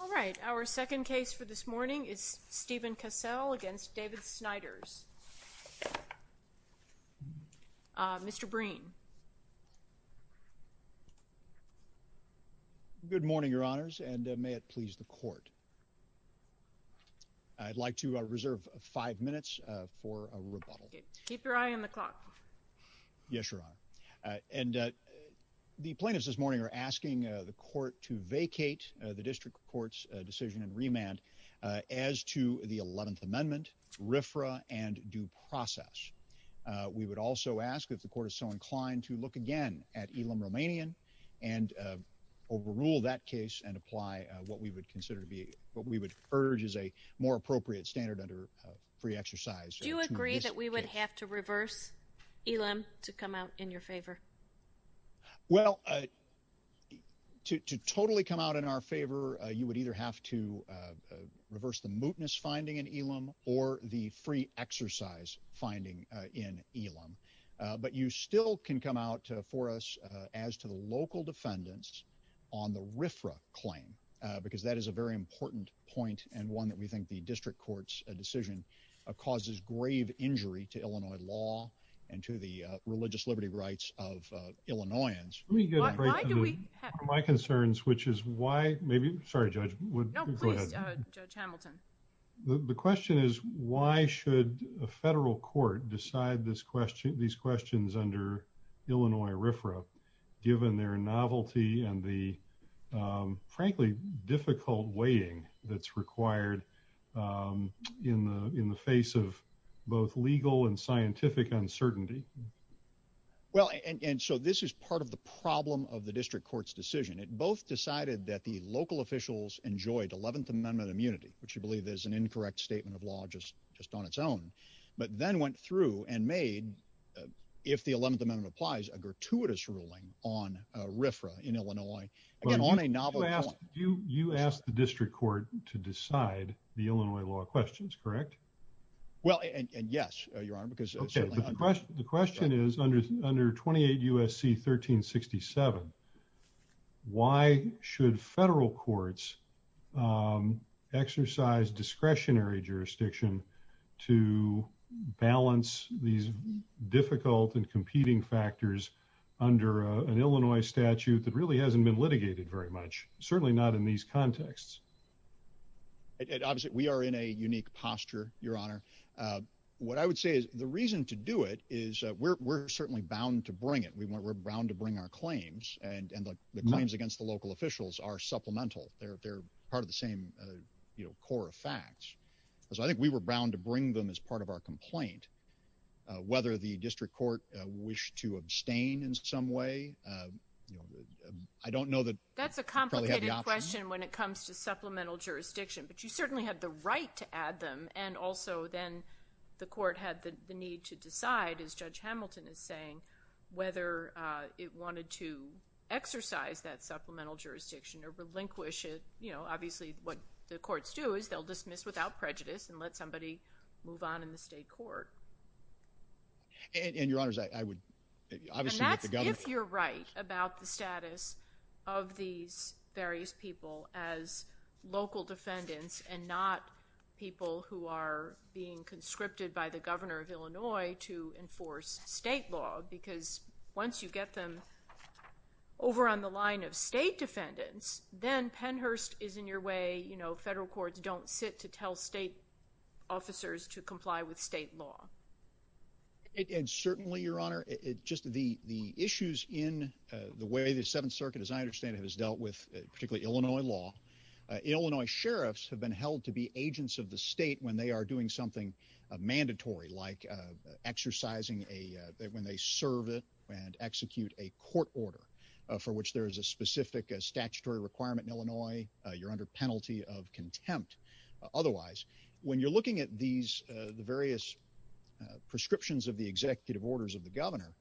All right our second case for this morning is Stephen Cassell against David Snyders. Mr. Breen. Good morning your honors and may it please the court I'd like to reserve five minutes for a rebuttal. Keep your eye on the clock. Yes Mr. Breen. Good morning your honors and may it please the court. I'd like to reserve five minutes for a rebuttal. Keep your eye on the clock. Yes Mr. Breen. Good morning your honors and may it please the court. Yes Mr. Breen. Good morning your maybe sorry judge, but the question is why should a federal court decide this question these questions under Illinois RFRA given their novelty and the frankly difficult weighing that's required in the in the face of both legal and scientific uncertainty. Well and so this is part of the problem of both decided that the local officials enjoyed 11th Amendment immunity which you believe there's an incorrect statement of law just just on its own but then went through and made if the 11th Amendment applies a gratuitous ruling on RFRA in Illinois and on a novel ask you you asked the district court to decide the Illinois law questions correct well and yes your 1367 why should federal courts exercise discretionary jurisdiction to balance these difficult and competing factors under an Illinois statute that really hasn't been litigated very much certainly not in these contexts it obviously we are in a unique posture your honor what I would say is the reason to do it is we're certainly bound to bring it we want we're bound to bring our claims and and the claims against the local officials are supplemental they're part of the same you know core of facts so I think we were bound to bring them as part of our complaint whether the district court wish to abstain in some way I don't know that that's a complicated question when it comes to supplemental jurisdiction but you certainly had the right to add them and also then the court had the need to decide as Judge Hamilton is whether it wanted to exercise that supplemental jurisdiction or relinquish it you know obviously what the courts do is they'll dismiss without prejudice and let somebody move on in the state court and your honors I would if you're right about the status of these various people as local defendants and not people who are being conscripted by the governor of Illinois to enforce state law because once you get them over on the line of state defendants then Pennhurst is in your way you know federal courts don't sit to tell state officers to comply with state law and certainly your honor it just the the issues in the way the Seventh Circuit as I understand it has dealt with particularly Illinois law Illinois sheriffs have been held to be agents of the state when they are doing something mandatory like exercising a when they serve it and execute a court order for which there is a specific statutory requirement in Illinois you're under penalty of contempt otherwise when you're looking at these the various prescriptions of the executive orders of the governor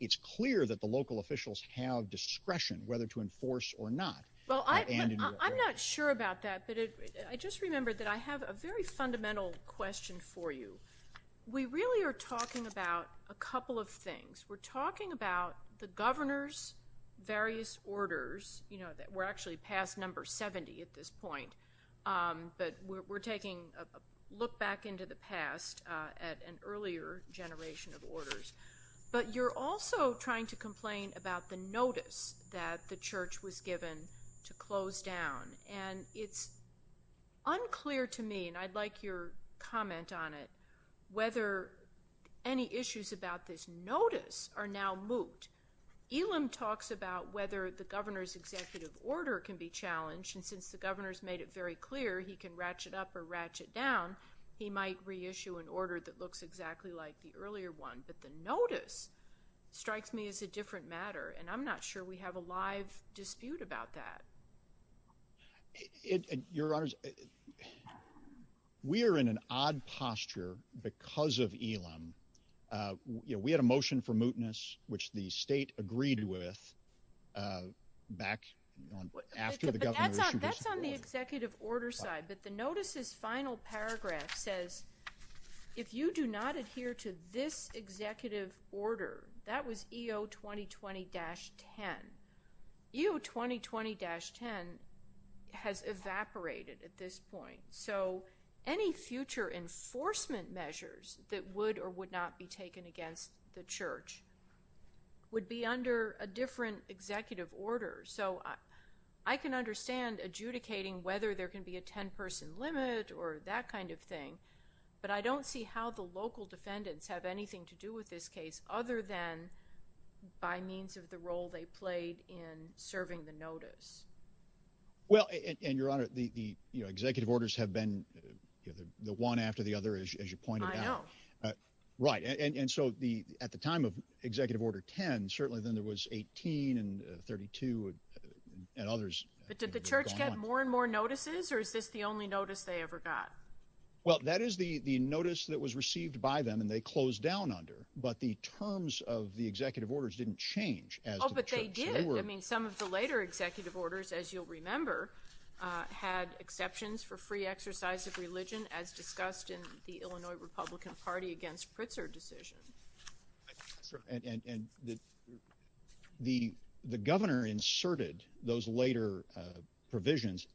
it's clear that the local that but I just remembered that I have a very fundamental question for you we really are talking about a couple of things we're talking about the governor's various orders you know that we're actually past number 70 at this point but we're taking a look back into the past at an earlier generation of orders but you're also trying to complain about the notice that the unclear to me and I'd like your comment on it whether any issues about this notice are now moot Elam talks about whether the governor's executive order can be challenged and since the governor's made it very clear he can ratchet up or ratchet down he might reissue an order that looks exactly like the earlier one but the notice strikes me as a different matter and I'm not sure we have a live dispute about that it your honors we are in an odd posture because of Elam you know we had a motion for mootness which the state agreed with back the executive order side but the notices final paragraph says if you do 2020-10 you 2020-10 has evaporated at this point so any future enforcement measures that would or would not be taken against the church would be under a different executive order so I can understand adjudicating whether there can be a 10 person limit or that kind of thing but I don't see how the local by means of the role they played in serving the notice well and your honor the the executive orders have been the one after the other as you pointed out right and and so the at the time of executive order 10 certainly then there was 18 and 32 and others did the church get more and more notices or is this the only notice they ever got well that is the the notice that was received by them and they closed down under but the terms of the executive orders didn't change as well but they did I mean some of the later executive orders as you'll remember had exceptions for free exercise of religion as discussed in the Illinois Republican Party against Pritzker decision and the the the governor inserted those later provisions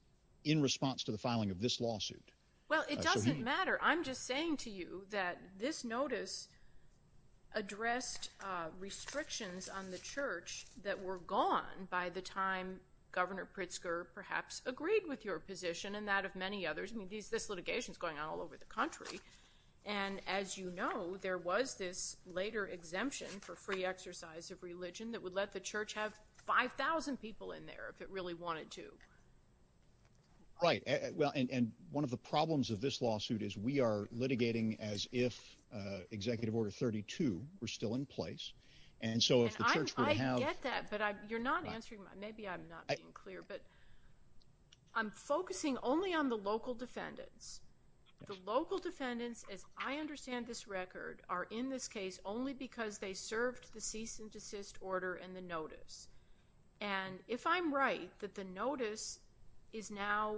in response to the filing of this lawsuit well it doesn't matter I'm just saying to you that this notice addressed restrictions on the church that were gone by the time governor Pritzker perhaps agreed with your position and that of many others I mean these this litigation is going on all over the country and as you know there was this later exemption for free exercise of religion that would let the church have 5,000 people in there if it really wanted to right well and one of the problems of this lawsuit is we are litigating as if executive order 32 we're still in place and so if you're not answering my maybe I'm not clear but I'm focusing only on the local defendants the local defendants as I understand this record are in this case only because they served the cease and the notice and if I'm right that the notice is now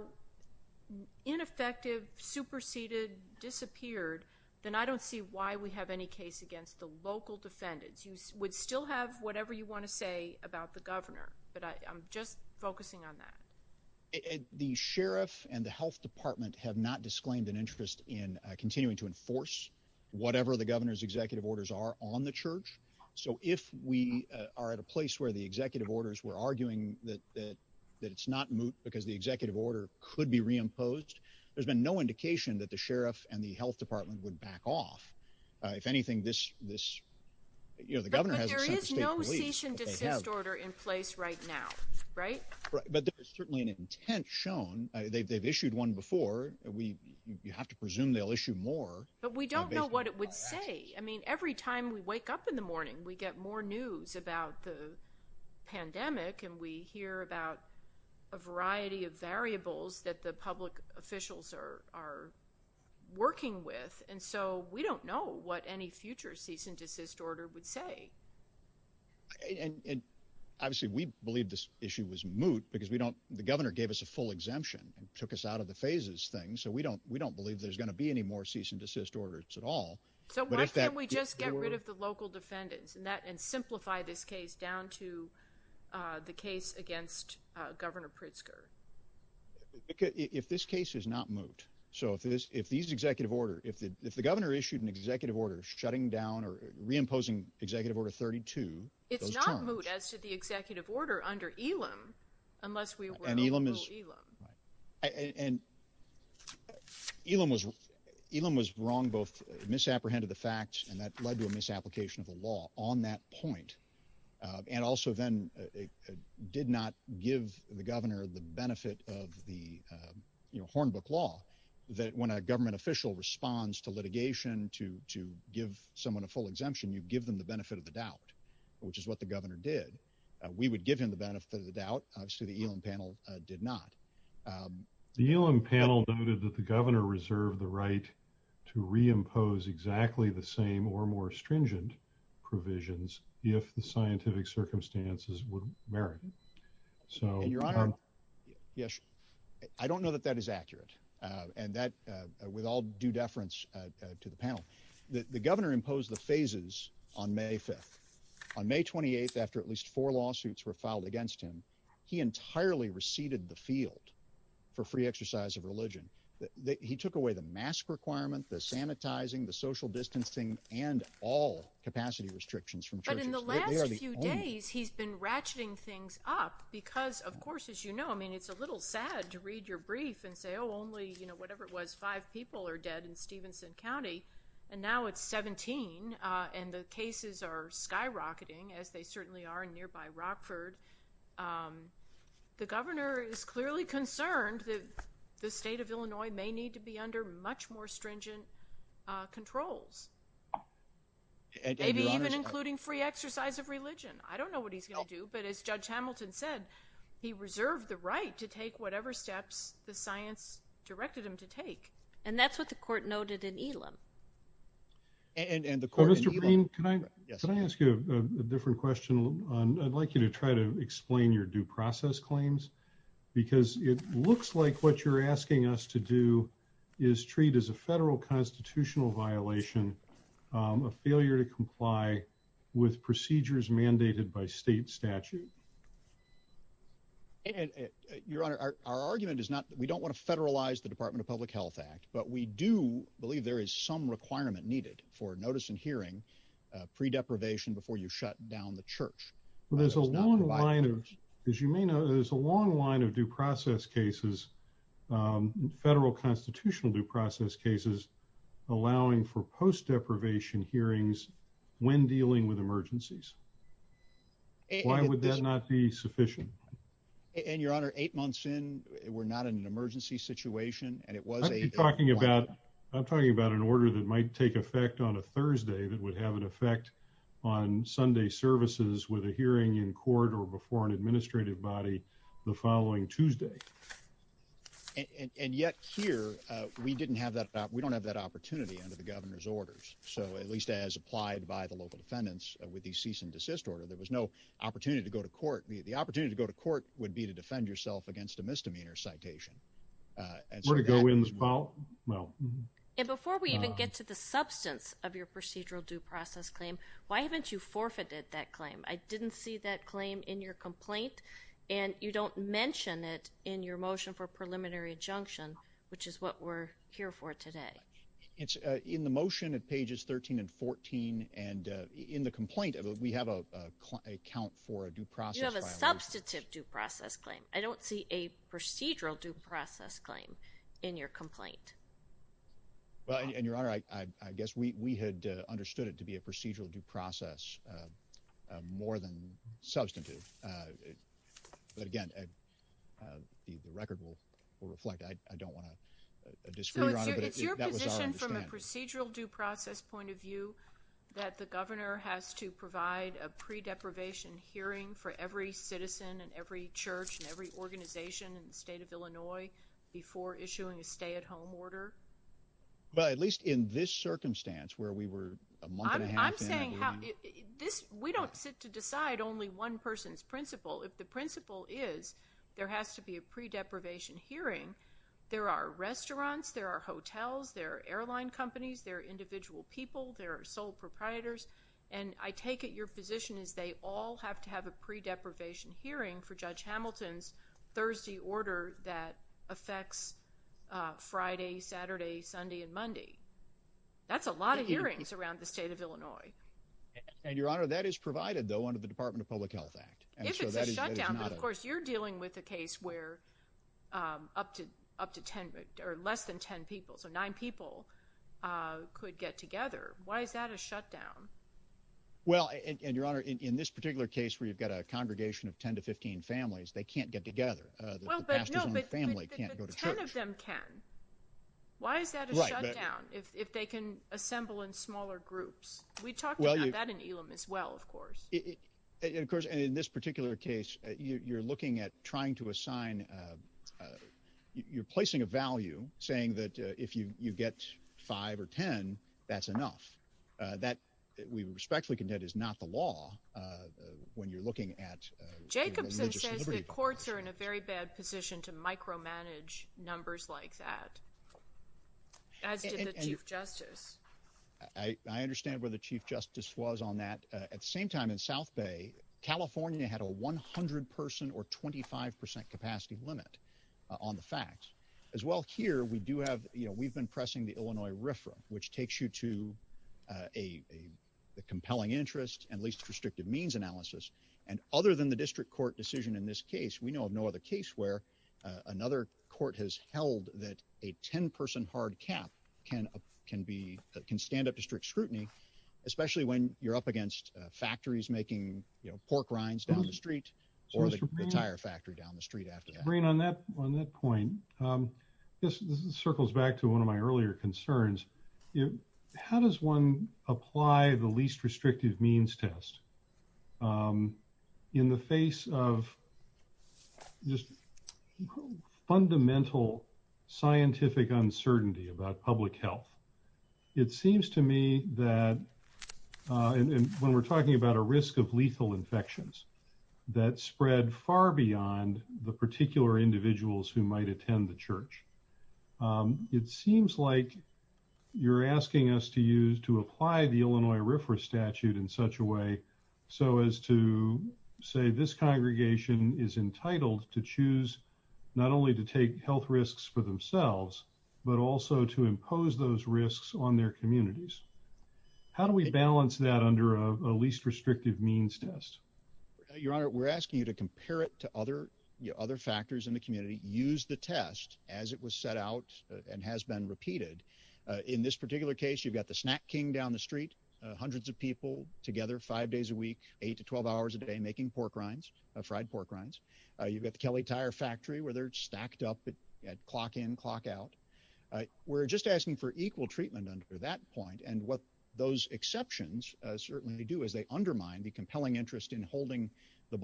ineffective superseded disappeared then I don't see why we have any case against the local defendants you would still have whatever you want to say about the governor but I'm just focusing on that the sheriff and the Health Department have not disclaimed an interest in continuing to enforce whatever the governor's executive orders are on the church so if we are at a place where the executive orders were arguing that that it's not moot because the executive order could be reimposed there's been no indication that the sheriff and the Health Department would back off if anything this this you know the governor has order in place right now right but there's certainly an intent shown they've issued one before we you have to presume they'll issue more but we don't know what it would say I mean every time we wake up in the morning we get more news about the pandemic and we hear about a variety of variables that the public officials are are working with and so we don't know what any future cease and desist order would say and obviously we believe this issue was moot because we don't the governor gave us a full exemption and took us out of the phases thing so we don't we don't believe there's going to be any more cease and desist orders at all but if that we just get rid of the local defendants and that and simplify this case down to the case against governor Pritzker if this case is not moot so if this if these executive order if the if the governor issued an executive order shutting down or reimposing executive order 32 it's not moot as to the executive order under Elam unless we and Elam is and Elam was Elam was wrong both misapprehended the facts and that led to a misapplication of the law on that point and also then it did not give the governor the benefit of the Hornbook law that when a government official responds to litigation to to give someone a full exemption you give them the benefit of the doubt which is what the governor did we would give him the benefit of the doubt obviously the Elam panel did not the Elam panel noted that the governor reserved the right to reimpose exactly the same or more stringent provisions if the scientific circumstances would merit so your honor yes I don't know that that is accurate and that with all due deference to the panel that the governor imposed the phases on May 5th on May 28th after at least four lawsuits were filed against him he entirely receded the field for free exercise of took away the mask requirement the sanitizing the social distancing and all capacity restrictions from he's been ratcheting things up because of course as you know I mean it's a little sad to read your brief and say oh only you know whatever it was five people are dead in Stevenson County and now it's 17 and the cases are skyrocketing as they certainly are in nearby Rockford the governor is need to be under much more stringent controls maybe even including free exercise of religion I don't know what he's gonna do but as judge Hamilton said he reserved the right to take whatever steps the science directed him to take and that's what the court noted in Elam and in the court mr. Green can I ask you a different question I'd like you to try to explain your due process claims because it looks like what you're asking us to do is treat as a federal constitutional violation a failure to comply with procedures mandated by state statute and your honor our argument is not that we don't want to federalize the Department of Public Health Act but we do believe there is some requirement needed for notice and hearing pre deprivation before you shut down the line of due process cases federal constitutional due process cases allowing for post deprivation hearings when dealing with emergencies why would that not be sufficient and your honor eight months in we're not in an emergency situation and it was a talking about I'm talking about an order that might take effect on a Thursday that would have an effect on Sunday services with a hearing in court or before an administrative body the following Tuesday and yet here we didn't have that we don't have that opportunity under the governor's orders so at least as applied by the local defendants with the cease and desist order there was no opportunity to go to court the opportunity to go to court would be to defend yourself against a misdemeanor citation and sort of go in this ball well and before we even get to the substance of your procedural due process claim why haven't you forfeited that claim I didn't see that claim in your complaint and you don't mention it in your motion for preliminary adjunction which is what we're here for today it's in the motion at pages 13 and 14 and in the complaint of it we have a count for a due process substantive due process claim I don't see a procedural due process claim in your complaint well and your honor I guess we had understood it be a procedural due process more than substantive but again the record will reflect I don't want a procedural due process point of view that the governor has to provide a pre-deprivation hearing for every citizen and every church and every organization in the state of Illinois before issuing a stay-at-home order but at least in this circumstance where we were this we don't sit to decide only one person's principle if the principle is there has to be a pre-deprivation hearing there are restaurants there are hotels there are airline companies there are individual people there are sole proprietors and I take it your position is they all have to have a pre-deprivation hearing for Saturday Sunday and Monday that's a lot of hearings around the state of Illinois and your honor that is provided though under the Department of Public Health Act of course you're dealing with a case where up to up to 10 or less than 10 people so nine people could get together why is that a shutdown well and your honor in this particular case where you've got a congregation of 10 to 15 families they can't get together why is that if they can assemble in smaller groups we talked about that in Elam as well of course it of course in this particular case you're looking at trying to assign you're placing a value saying that if you you get five or ten that's enough that we respectfully condemn is not the law when you're looking at courts are in a very bad position to micromanage numbers like that I understand where the Chief Justice was on that at the same time in South Bay California had a 100 person or 25% capacity limit on the facts as well here we do have you know we've been pressing the Illinois RFRA which takes you to a compelling interest and least restrictive means analysis and other than the district court decision in this case we know of no other case where another court has held that a 10 person hard cap can can be can stand up to strict scrutiny especially when you're up against factories making you know pork rinds down the street or the tire factory down the street after rain on that on that point this circles back to one of my earlier concerns you how does one apply the least restrictive means test in the face of just fundamental scientific uncertainty about public health it seems to me that and when we're talking about a risk of lethal infections that spread far beyond the particular individuals who might attend the church it seems like you're asking us to use to apply the Illinois RFRA statute in such a way so as to say this congregation is entitled to choose not only to take health risks for themselves but also to impose those risks on their communities how do we balance that under a least restrictive means test your honor we're asking you to compare it to other other factors in the community use the test as it was set out and has been repeated in this particular case you've got the snack King down the street hundreds of people together five days a week eight to twelve hours a day making pork rinds of fried pork rinds you've got the Kelly tire factory where they're stacked up at clock in clock out we're just asking for equal treatment under that point and what those exceptions certainly do is they undermine the compelling interest in holding the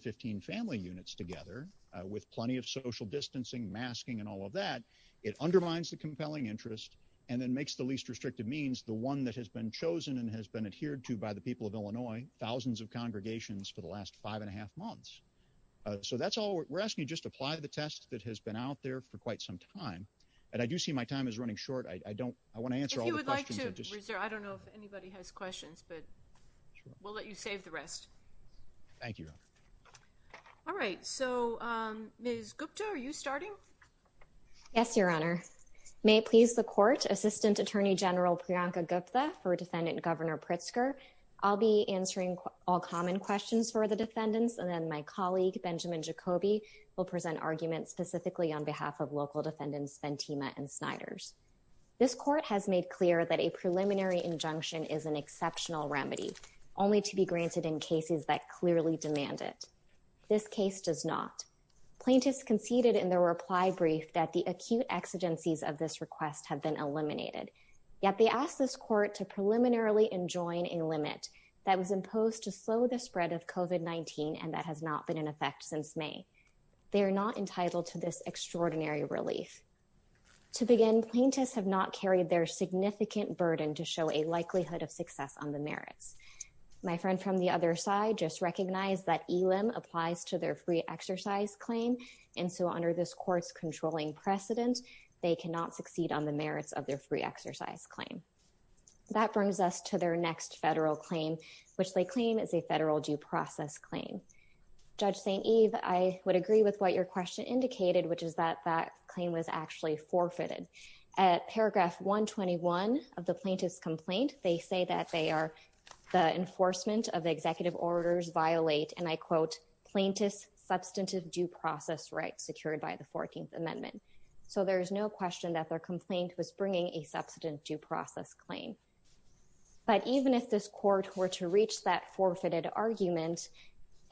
15 family units together with plenty of social distancing masking and all of that it undermines the compelling interest and then makes the least restrictive means the one that has been chosen and has been adhered to by the people of Illinois thousands of congregations for the last five and a half months so that's all we're asking you just apply the test that has been out there for quite some time and I do see my time is running short I don't I all right so Ms. Gupta are you starting yes your honor may it please the court assistant attorney general Priyanka Gupta for defendant governor Pritzker I'll be answering all common questions for the defendants and then my colleague Benjamin Jacoby will present arguments specifically on behalf of local defendants Ventima and Snyder's this court has made clear that a preliminary injunction is an exceptional remedy only to be granted in cases that clearly demand it this case does not plaintiffs conceded in their reply brief that the acute exigencies of this request have been eliminated yet they asked this court to preliminarily enjoin a limit that was imposed to slow the spread of kovat 19 and that has not been in effect since May they are not entitled to this extraordinary relief to begin plaintiffs have not carried their significant burden to show a likelihood of success on the merits my friend from the other side just recognize that he lim applies to their free exercise claim and so under this court's controlling precedent they cannot succeed on the merits of their free exercise claim that brings us to their next federal claim which they claim is a federal due process claim judge St. Eve I would agree with what your question indicated which is that that claim was actually forfeited at paragraph 121 of the plaintiffs complaint they say that they are the executive orders violate and I quote plaintiffs substantive due process rights secured by the 14th amendment so there is no question that their complaint was bringing a substantive due process claim but even if this court were to reach that forfeited argument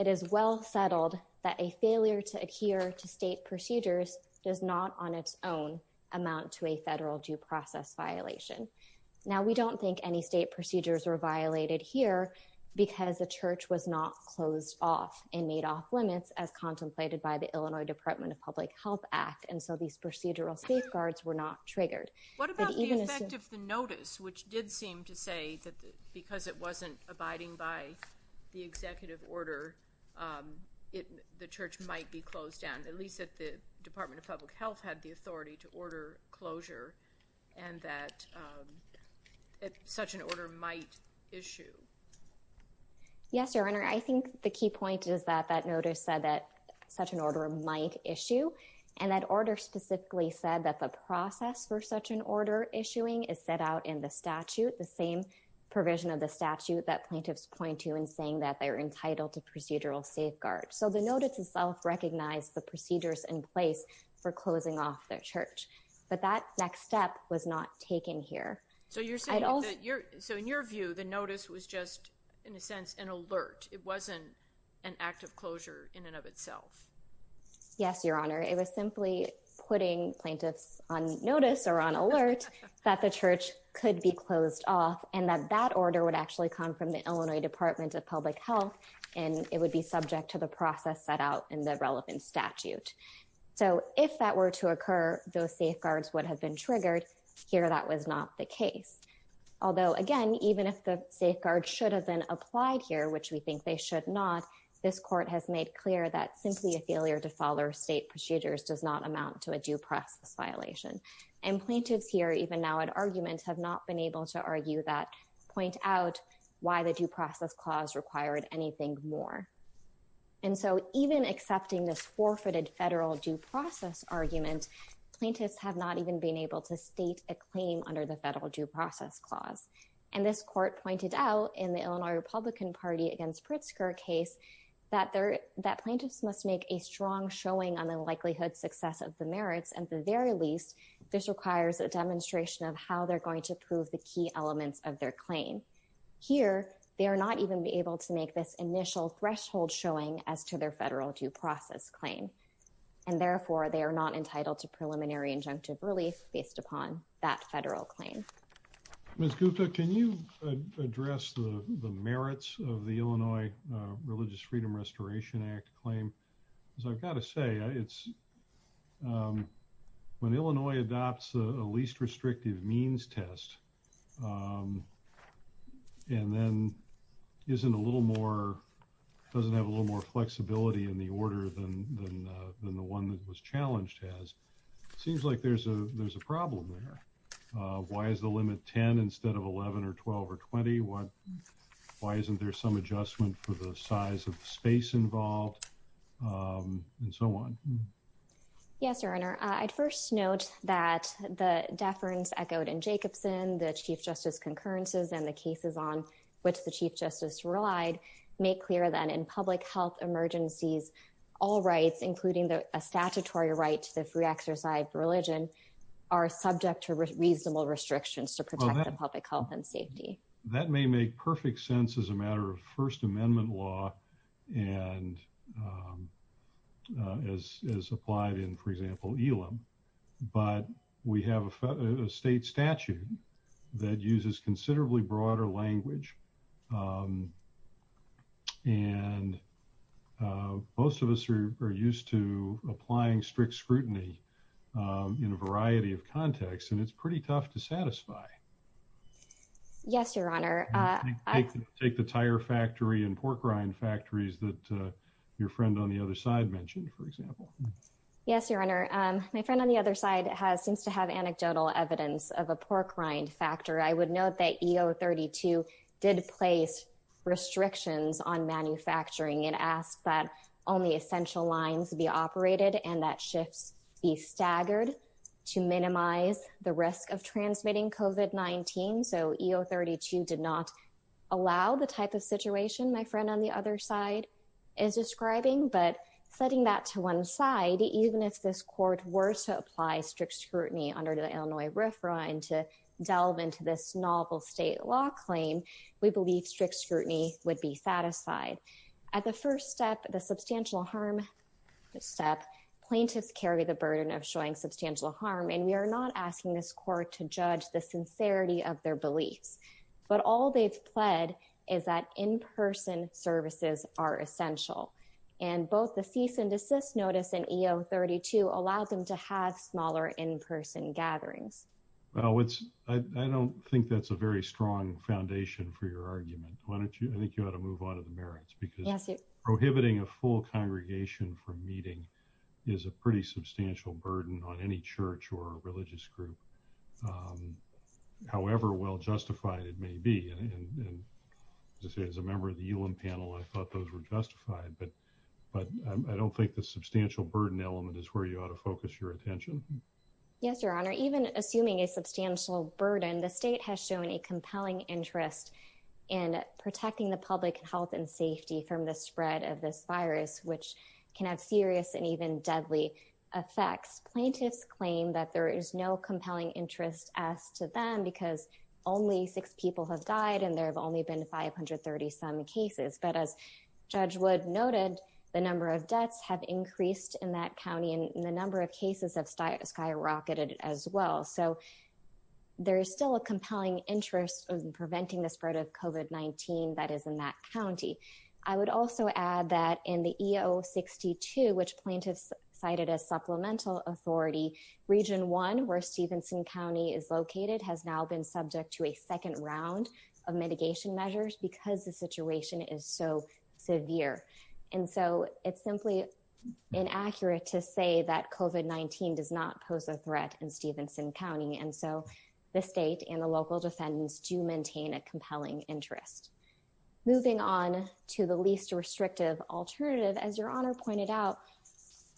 it is well settled that a failure to adhere to state procedures does not on its own amount to a federal due process violation now we don't think any state procedures were violated here because the church was not closed off and made off limits as contemplated by the Illinois Department of Public Health Act and so these procedural safeguards were not triggered what about the effect of the notice which did seem to say that because it wasn't abiding by the executive order it the church might be closed down at least at the Department of Public Health had the authority to yes your honor I think the key point is that that notice said that such an order might issue and that order specifically said that the process for such an order issuing is set out in the statute the same provision of the statute that plaintiffs point to in saying that they are entitled to procedural safeguards so the notice itself recognized the procedures in place for closing off their church but that next step was not taken here so you're saying that you're so in your view the notice was just in a sense an alert it wasn't an act of closure in and of itself yes your honor it was simply putting plaintiffs on notice or on alert that the church could be closed off and that that order would actually come from the Illinois Department of Public Health and it would be subject to the process set out in the relevant statute so if that were to occur those safeguards would have been triggered here that was not the case although again even if the safeguard should have been applied here which we think they should not this court has made clear that simply a failure to follow state procedures does not amount to a due process violation and plaintiffs here even now an argument have not been able to argue that point out why the due process clause required anything more and so even accepting this forfeited federal due process argument plaintiffs have not even been able to state a claim under the federal due process clause and this court pointed out in the Illinois Republican Party against Pritzker case that they're that plaintiffs must make a strong showing on the likelihood success of the merits and the very least this requires a demonstration of how they're going to prove the key elements of their claim here they are not even be able to make this initial threshold showing as to their federal due process claim and therefore they are not entitled to preliminary injunctive relief based upon that federal claim. Ms. Gupta can you address the merits of the Illinois Religious Freedom Restoration Act claim because I've got to say it's when Illinois adopts a least restrictive means test and then isn't a little more doesn't have a little more flexibility in the order than the one that was why is the limit 10 instead of 11 or 12 or 20 what why isn't there some adjustment for the size of space involved and so on. Yes your honor I'd first note that the deference echoed in Jacobson the chief justice concurrences and the cases on which the chief justice relied make clear that in public health emergencies all rights including the statutory right to the free exercise religion are subject to reasonable restrictions to protect the public health and safety. That may make perfect sense as a matter of First Amendment law and as applied in for example ELIM but we have a state statute that uses considerably broader language and most of us are used to applying strict scrutiny in a variety of contexts and it's pretty tough to satisfy. Yes your honor. Take the tire factory and pork rind factories that your friend on the other side mentioned for example. Yes your honor my friend on the other side has seems to have anecdotal evidence of a pork rind factory. I would note that EO 32 did place restrictions on manufacturing and asked that only essential lines be operated and that shifts be staggered to minimize the risk of transmitting COVID-19. So EO 32 did not allow the type of situation my friend on the other side is describing but setting that to one side even if this court were to apply strict scrutiny under the Illinois RFRA and to delve into this novel state law claim we believe strict scrutiny would be satisfied. At the first step the substantial harm step plaintiffs carry the burden of showing substantial harm and we are not asking this court to judge the sincerity of their beliefs but all they've pled is that in-person services are essential and both the cease and desist notice in EO 32 allowed them to have smaller in-person gatherings. Well it's I don't think that's a very strong foundation for your argument. Why don't you I think you got to move on to the merits because prohibiting a full congregation from meeting is a pretty substantial burden on any church or a religious group however well justified it may be and as a member of the ULIM panel I thought those were justified but but I don't think the substantial burden element is where you ought to focus your attention. Yes your honor even assuming a substantial burden the state has shown a compelling interest in protecting the public health and safety from the spread of this virus which can have serious and even deadly effects. Plaintiffs claim that there is no compelling interest as to them because only six people have died and there have only been 530 some cases but as Judge Wood noted the number of deaths have increased in that county and the number of cases have skyrocketed as well so there is still a compelling interest of preventing the spread of COVID-19 that is in that county. I would also add that in the EO 62 which plaintiffs cited as supplemental authority region 1 where Stevenson County is located has now been subject to a second round of mitigation measures because the situation is so severe and so it's simply inaccurate to say that COVID-19 does not pose a threat in Stevenson County and so the state and the local defendants do maintain a Moving on to the least restrictive alternative as your honor pointed out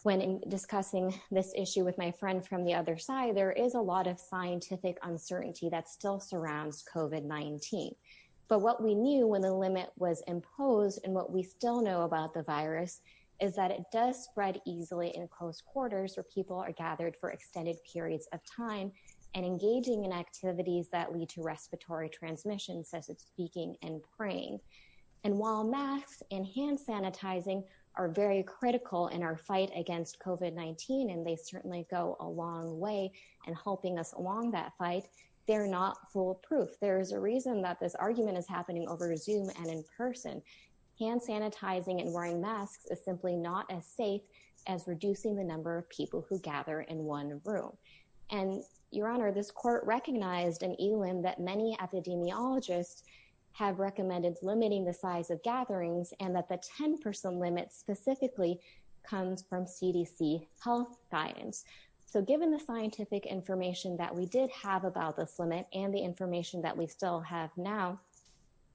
when discussing this issue with my friend from the other side there is a lot of scientific uncertainty that still surrounds COVID-19 but what we knew when the limit was imposed and what we still know about the virus is that it does spread easily in close quarters where people are gathered for extended periods of time and engaging in activities that lead to respiratory transmission such as speaking and praying and while masks and hand sanitizing are very critical in our fight against COVID-19 and they certainly go a long way and helping us along that fight they're not foolproof there is a reason that this argument is happening over zoom and in person hand sanitizing and wearing masks is simply not as safe as reducing the number of people who gather in one room and your have recommended limiting the size of gatherings and that the 10% limit specifically comes from CDC health guidance so given the scientific information that we did have about this limit and the information that we still have now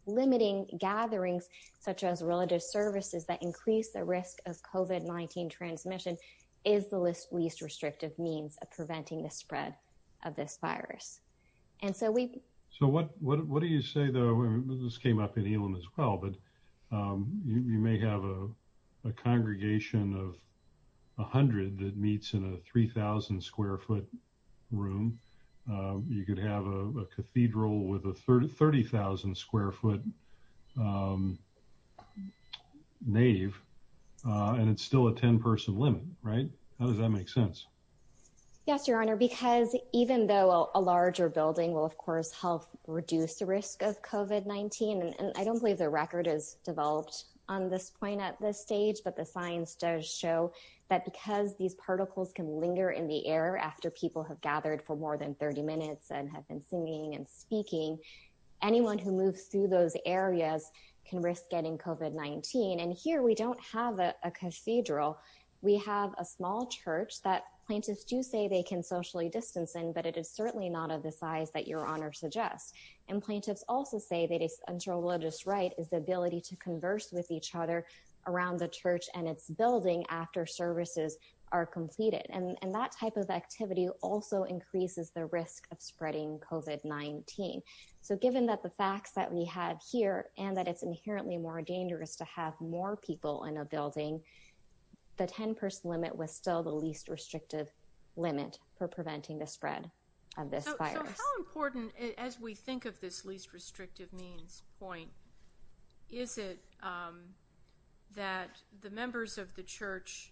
limiting gatherings such as religious services that increase the risk of COVID-19 transmission is the list least restrictive means of this came up in Elam as well but you may have a congregation of a hundred that meets in a 3,000 square foot room you could have a cathedral with a third of 30,000 square foot nave and it's still a 10 person limit right how does that make sense yes your honor because even though a larger building will of COVID-19 and I don't believe the record is developed on this point at this stage but the science does show that because these particles can linger in the air after people have gathered for more than 30 minutes and have been singing and speaking anyone who moves through those areas can risk getting COVID-19 and here we don't have a cathedral we have a small church that plaintiffs do say they can socially distance in but it is certainly not of the size that your religious right is the ability to converse with each other around the church and it's building after services are completed and and that type of activity also increases the risk of spreading COVID-19 so given that the facts that we have here and that it's inherently more dangerous to have more people in a building the 10-person limit was still the least restrictive limit for preventing the spread of this virus important as we think of this least restrictive means point is it that the members of the church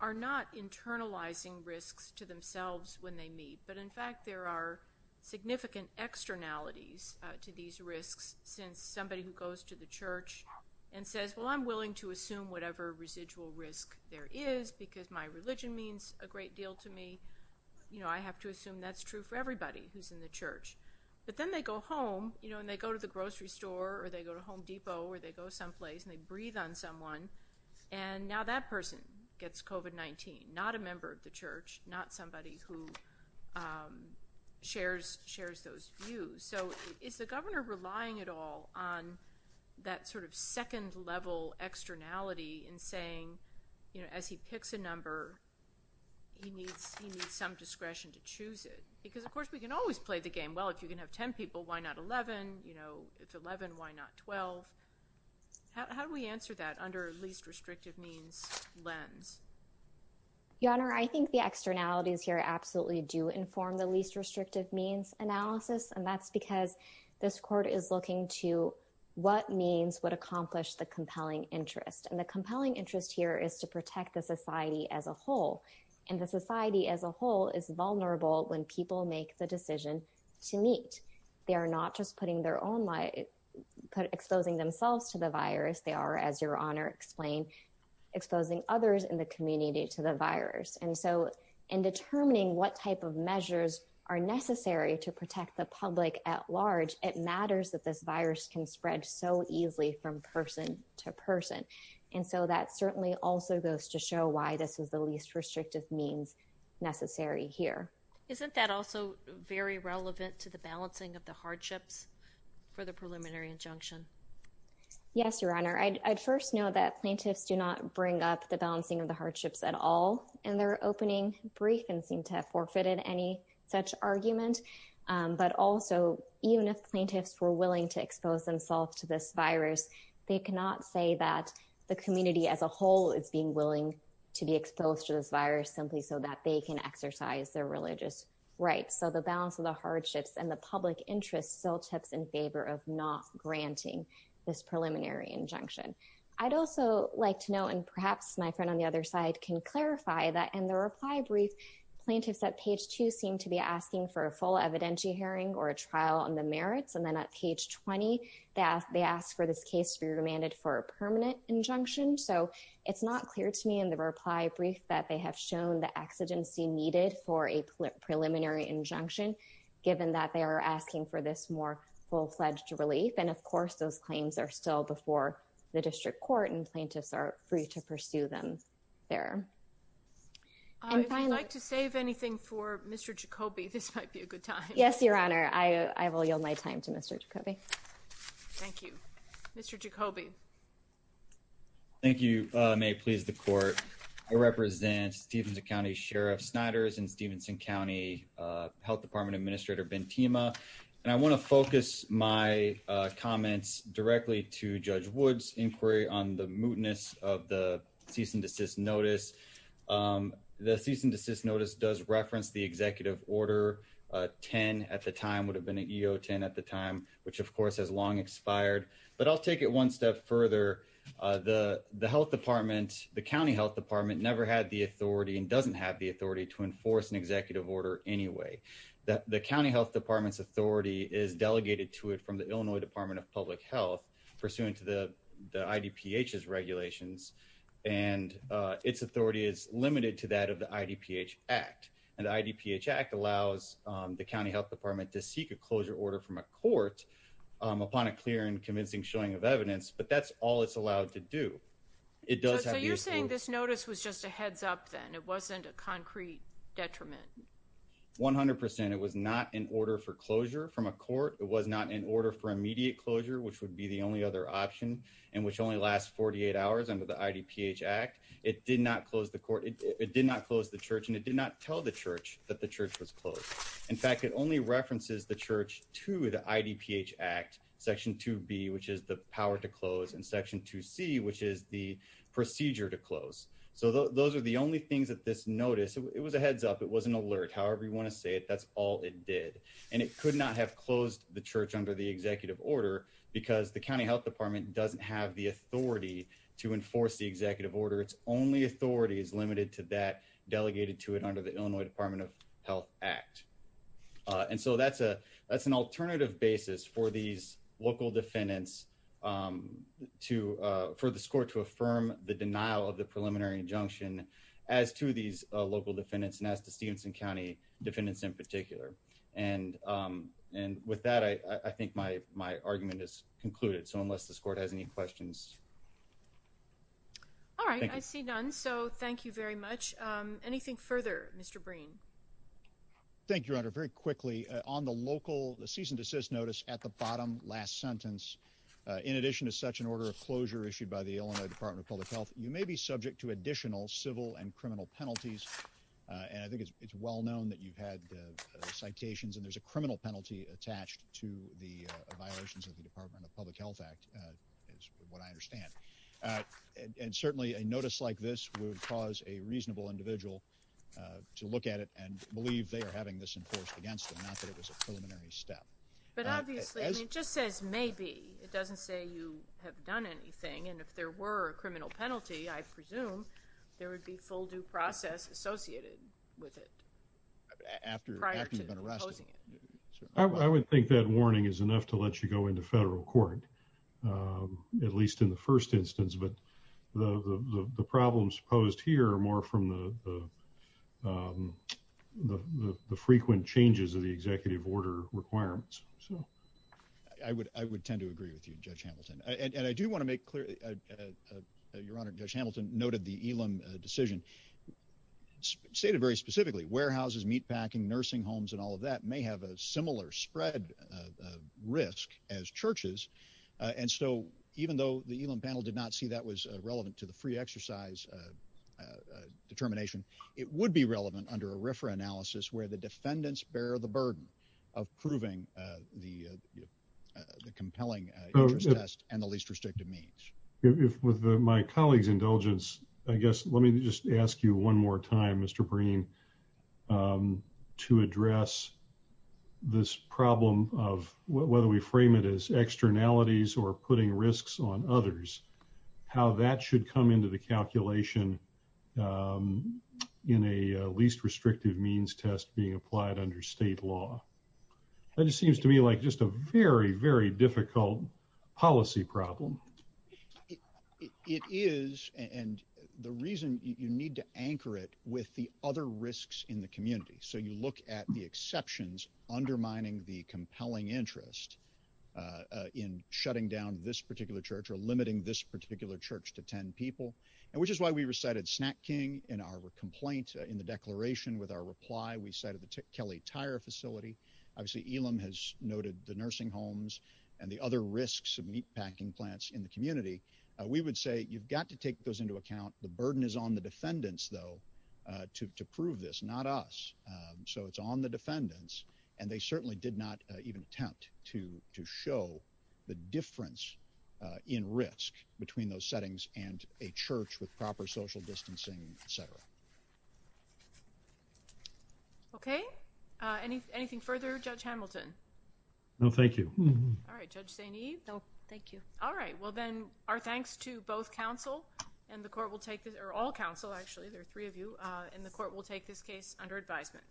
are not internalizing risks to themselves when they meet but in fact there are significant externalities to these risks since somebody who goes to the church and says well I'm willing to assume whatever residual risk there is because my religion means a great deal to me you know I have to assume that's true for everybody who's in the church but then they go home you know and they go to the grocery store or they go to Home Depot or they go someplace and they breathe on someone and now that person gets COVID-19 not a member of the church not somebody who shares shares those views so is the governor relying at all on that sort of second level externality in saying you know as he picks a number he can always play the game well if you can have 10 people why not 11 you know it's 11 why not 12 how do we answer that under least restrictive means lens your honor I think the externalities here absolutely do inform the least restrictive means analysis and that's because this court is looking to what means would accomplish the compelling interest and the compelling interest here is to protect the society as a whole and the society as a whole is going to make the decision to meet they are not just putting their own light exposing themselves to the virus they are as your honor explained exposing others in the community to the virus and so in determining what type of measures are necessary to protect the public at large it matters that this virus can spread so easily from person to person and so that certainly also goes to show why this was the least restrictive means necessary here isn't that also very relevant to the balancing of the hardships for the preliminary injunction yes your honor I'd first know that plaintiffs do not bring up the balancing of the hardships at all and they're opening brief and seem to have forfeited any such argument but also even if plaintiffs were willing to expose themselves to this virus they cannot say that the community as a whole is being willing to be exposed to this virus simply so that they can exercise their religious rights so the balance of the hardships and the public interest still tips in favor of not granting this preliminary injunction I'd also like to know and perhaps my friend on the other side can clarify that and the reply brief plaintiffs at page 2 seem to be asking for a full evidentiary hearing or a trial on the merits and then at page 20 that they asked for this case to be permanent injunction so it's not clear to me in the reply brief that they have shown the exigency needed for a preliminary injunction given that they are asking for this more full-fledged relief and of course those claims are still before the district court and plaintiffs are free to pursue them there I'd like to save anything for mr. Jacoby this might be a good time yes your honor I I will yield my time to mr. Jacoby thank you mr. Jacoby thank you may please the court I represent Stevenson County Sheriff Snyder's in Stevenson County Health Department administrator Ben Tima and I want to focus my comments directly to judge woods inquiry on the mootness of the cease and desist notice the cease and desist notice does reference the would have been a EO 10 at the time which of course has long expired but I'll take it one step further the the Health Department the County Health Department never had the authority and doesn't have the authority to enforce an executive order anyway that the County Health Department's authority is delegated to it from the Illinois Department of Public Health pursuant to the the ID pH's regulations and its authority is limited to that of the ID pH act and ID pH act allows the County Health Department to seek a closure order from a court upon a clear and convincing showing of evidence but that's all it's allowed to do it does so you're saying this notice was just a heads-up then it wasn't a concrete detriment 100% it was not in order for closure from a court it was not in order for immediate closure which would be the only other option and which only lasts 48 hours under the ID pH act it did not close the court it did not close the church and it did not tell the church that the church was closed in fact it only references the church to the ID pH act section 2b which is the power to close in section 2c which is the procedure to close so those are the only things that this notice it was a heads up it was an alert however you want to say it that's all it did and it could not have closed the church under the executive order because the County Health Department doesn't have the authority to enforce the executive order it's only authority is limited to that delegated to it under the Illinois Department of Health Act and so that's a that's an alternative basis for these local defendants to for the score to affirm the denial of the preliminary injunction as to these local defendants and as to Stevenson County defendants in particular and and with that I think my my argument is concluded so unless the thank you very much anything further mr. Breen Thank You under very quickly on the local the cease and desist notice at the bottom last sentence in addition to such an order of closure issued by the Illinois Department of Public Health you may be subject to additional civil and criminal penalties and I think it's well known that you've had citations and there's a criminal penalty attached to the Department of Public Health Act is what I understand and certainly a notice like this would cause a reasonable individual to look at it and believe they are having this enforced against the method it was a preliminary step but obviously it just says maybe it doesn't say you have done anything and if there were a criminal penalty I presume there would be full due process associated with it I would think that warning is enough to let you go into federal court at least in the first instance but the the problems posed here are more from the the frequent changes of the executive order requirements so I would I would tend to agree with you judge Hamilton and I do want to make clear your honor judge Hamilton noted the Elam decision stated very specifically warehouses meatpacking nursing homes and all of that may have a similar spread risk as churches and so even though the Elam panel did not see that was relevant to the free exercise determination it would be relevant under a refer analysis where the defendants bear the burden of proving the compelling and the least restrictive means if with my colleagues indulgence I guess let me just ask you one more time mr. Breen to address this problem of whether we frame it as externalities or putting risks on others how that should come into the calculation in a least restrictive means test being applied under state law that just seems to me like just a very very difficult policy problem it is and the with the other risks in the community so you look at the exceptions undermining the compelling interest in shutting down this particular church or limiting this particular church to ten people and which is why we recited snack King in our complaint in the declaration with our reply we cited the Kelly tire facility obviously Elam has noted the nursing homes and the other risks of meatpacking plants in the community we would say you've got to take those into account the burden is on the defendants though to prove this not us so it's on the defendants and they certainly did not even attempt to to show the difference in risk between those settings and a church with proper social distancing etc okay anything further judge Hamilton no thank you all right well then our thanks to both counsel and the court will take this or all counsel actually there are three of you in the court will take this case under advisement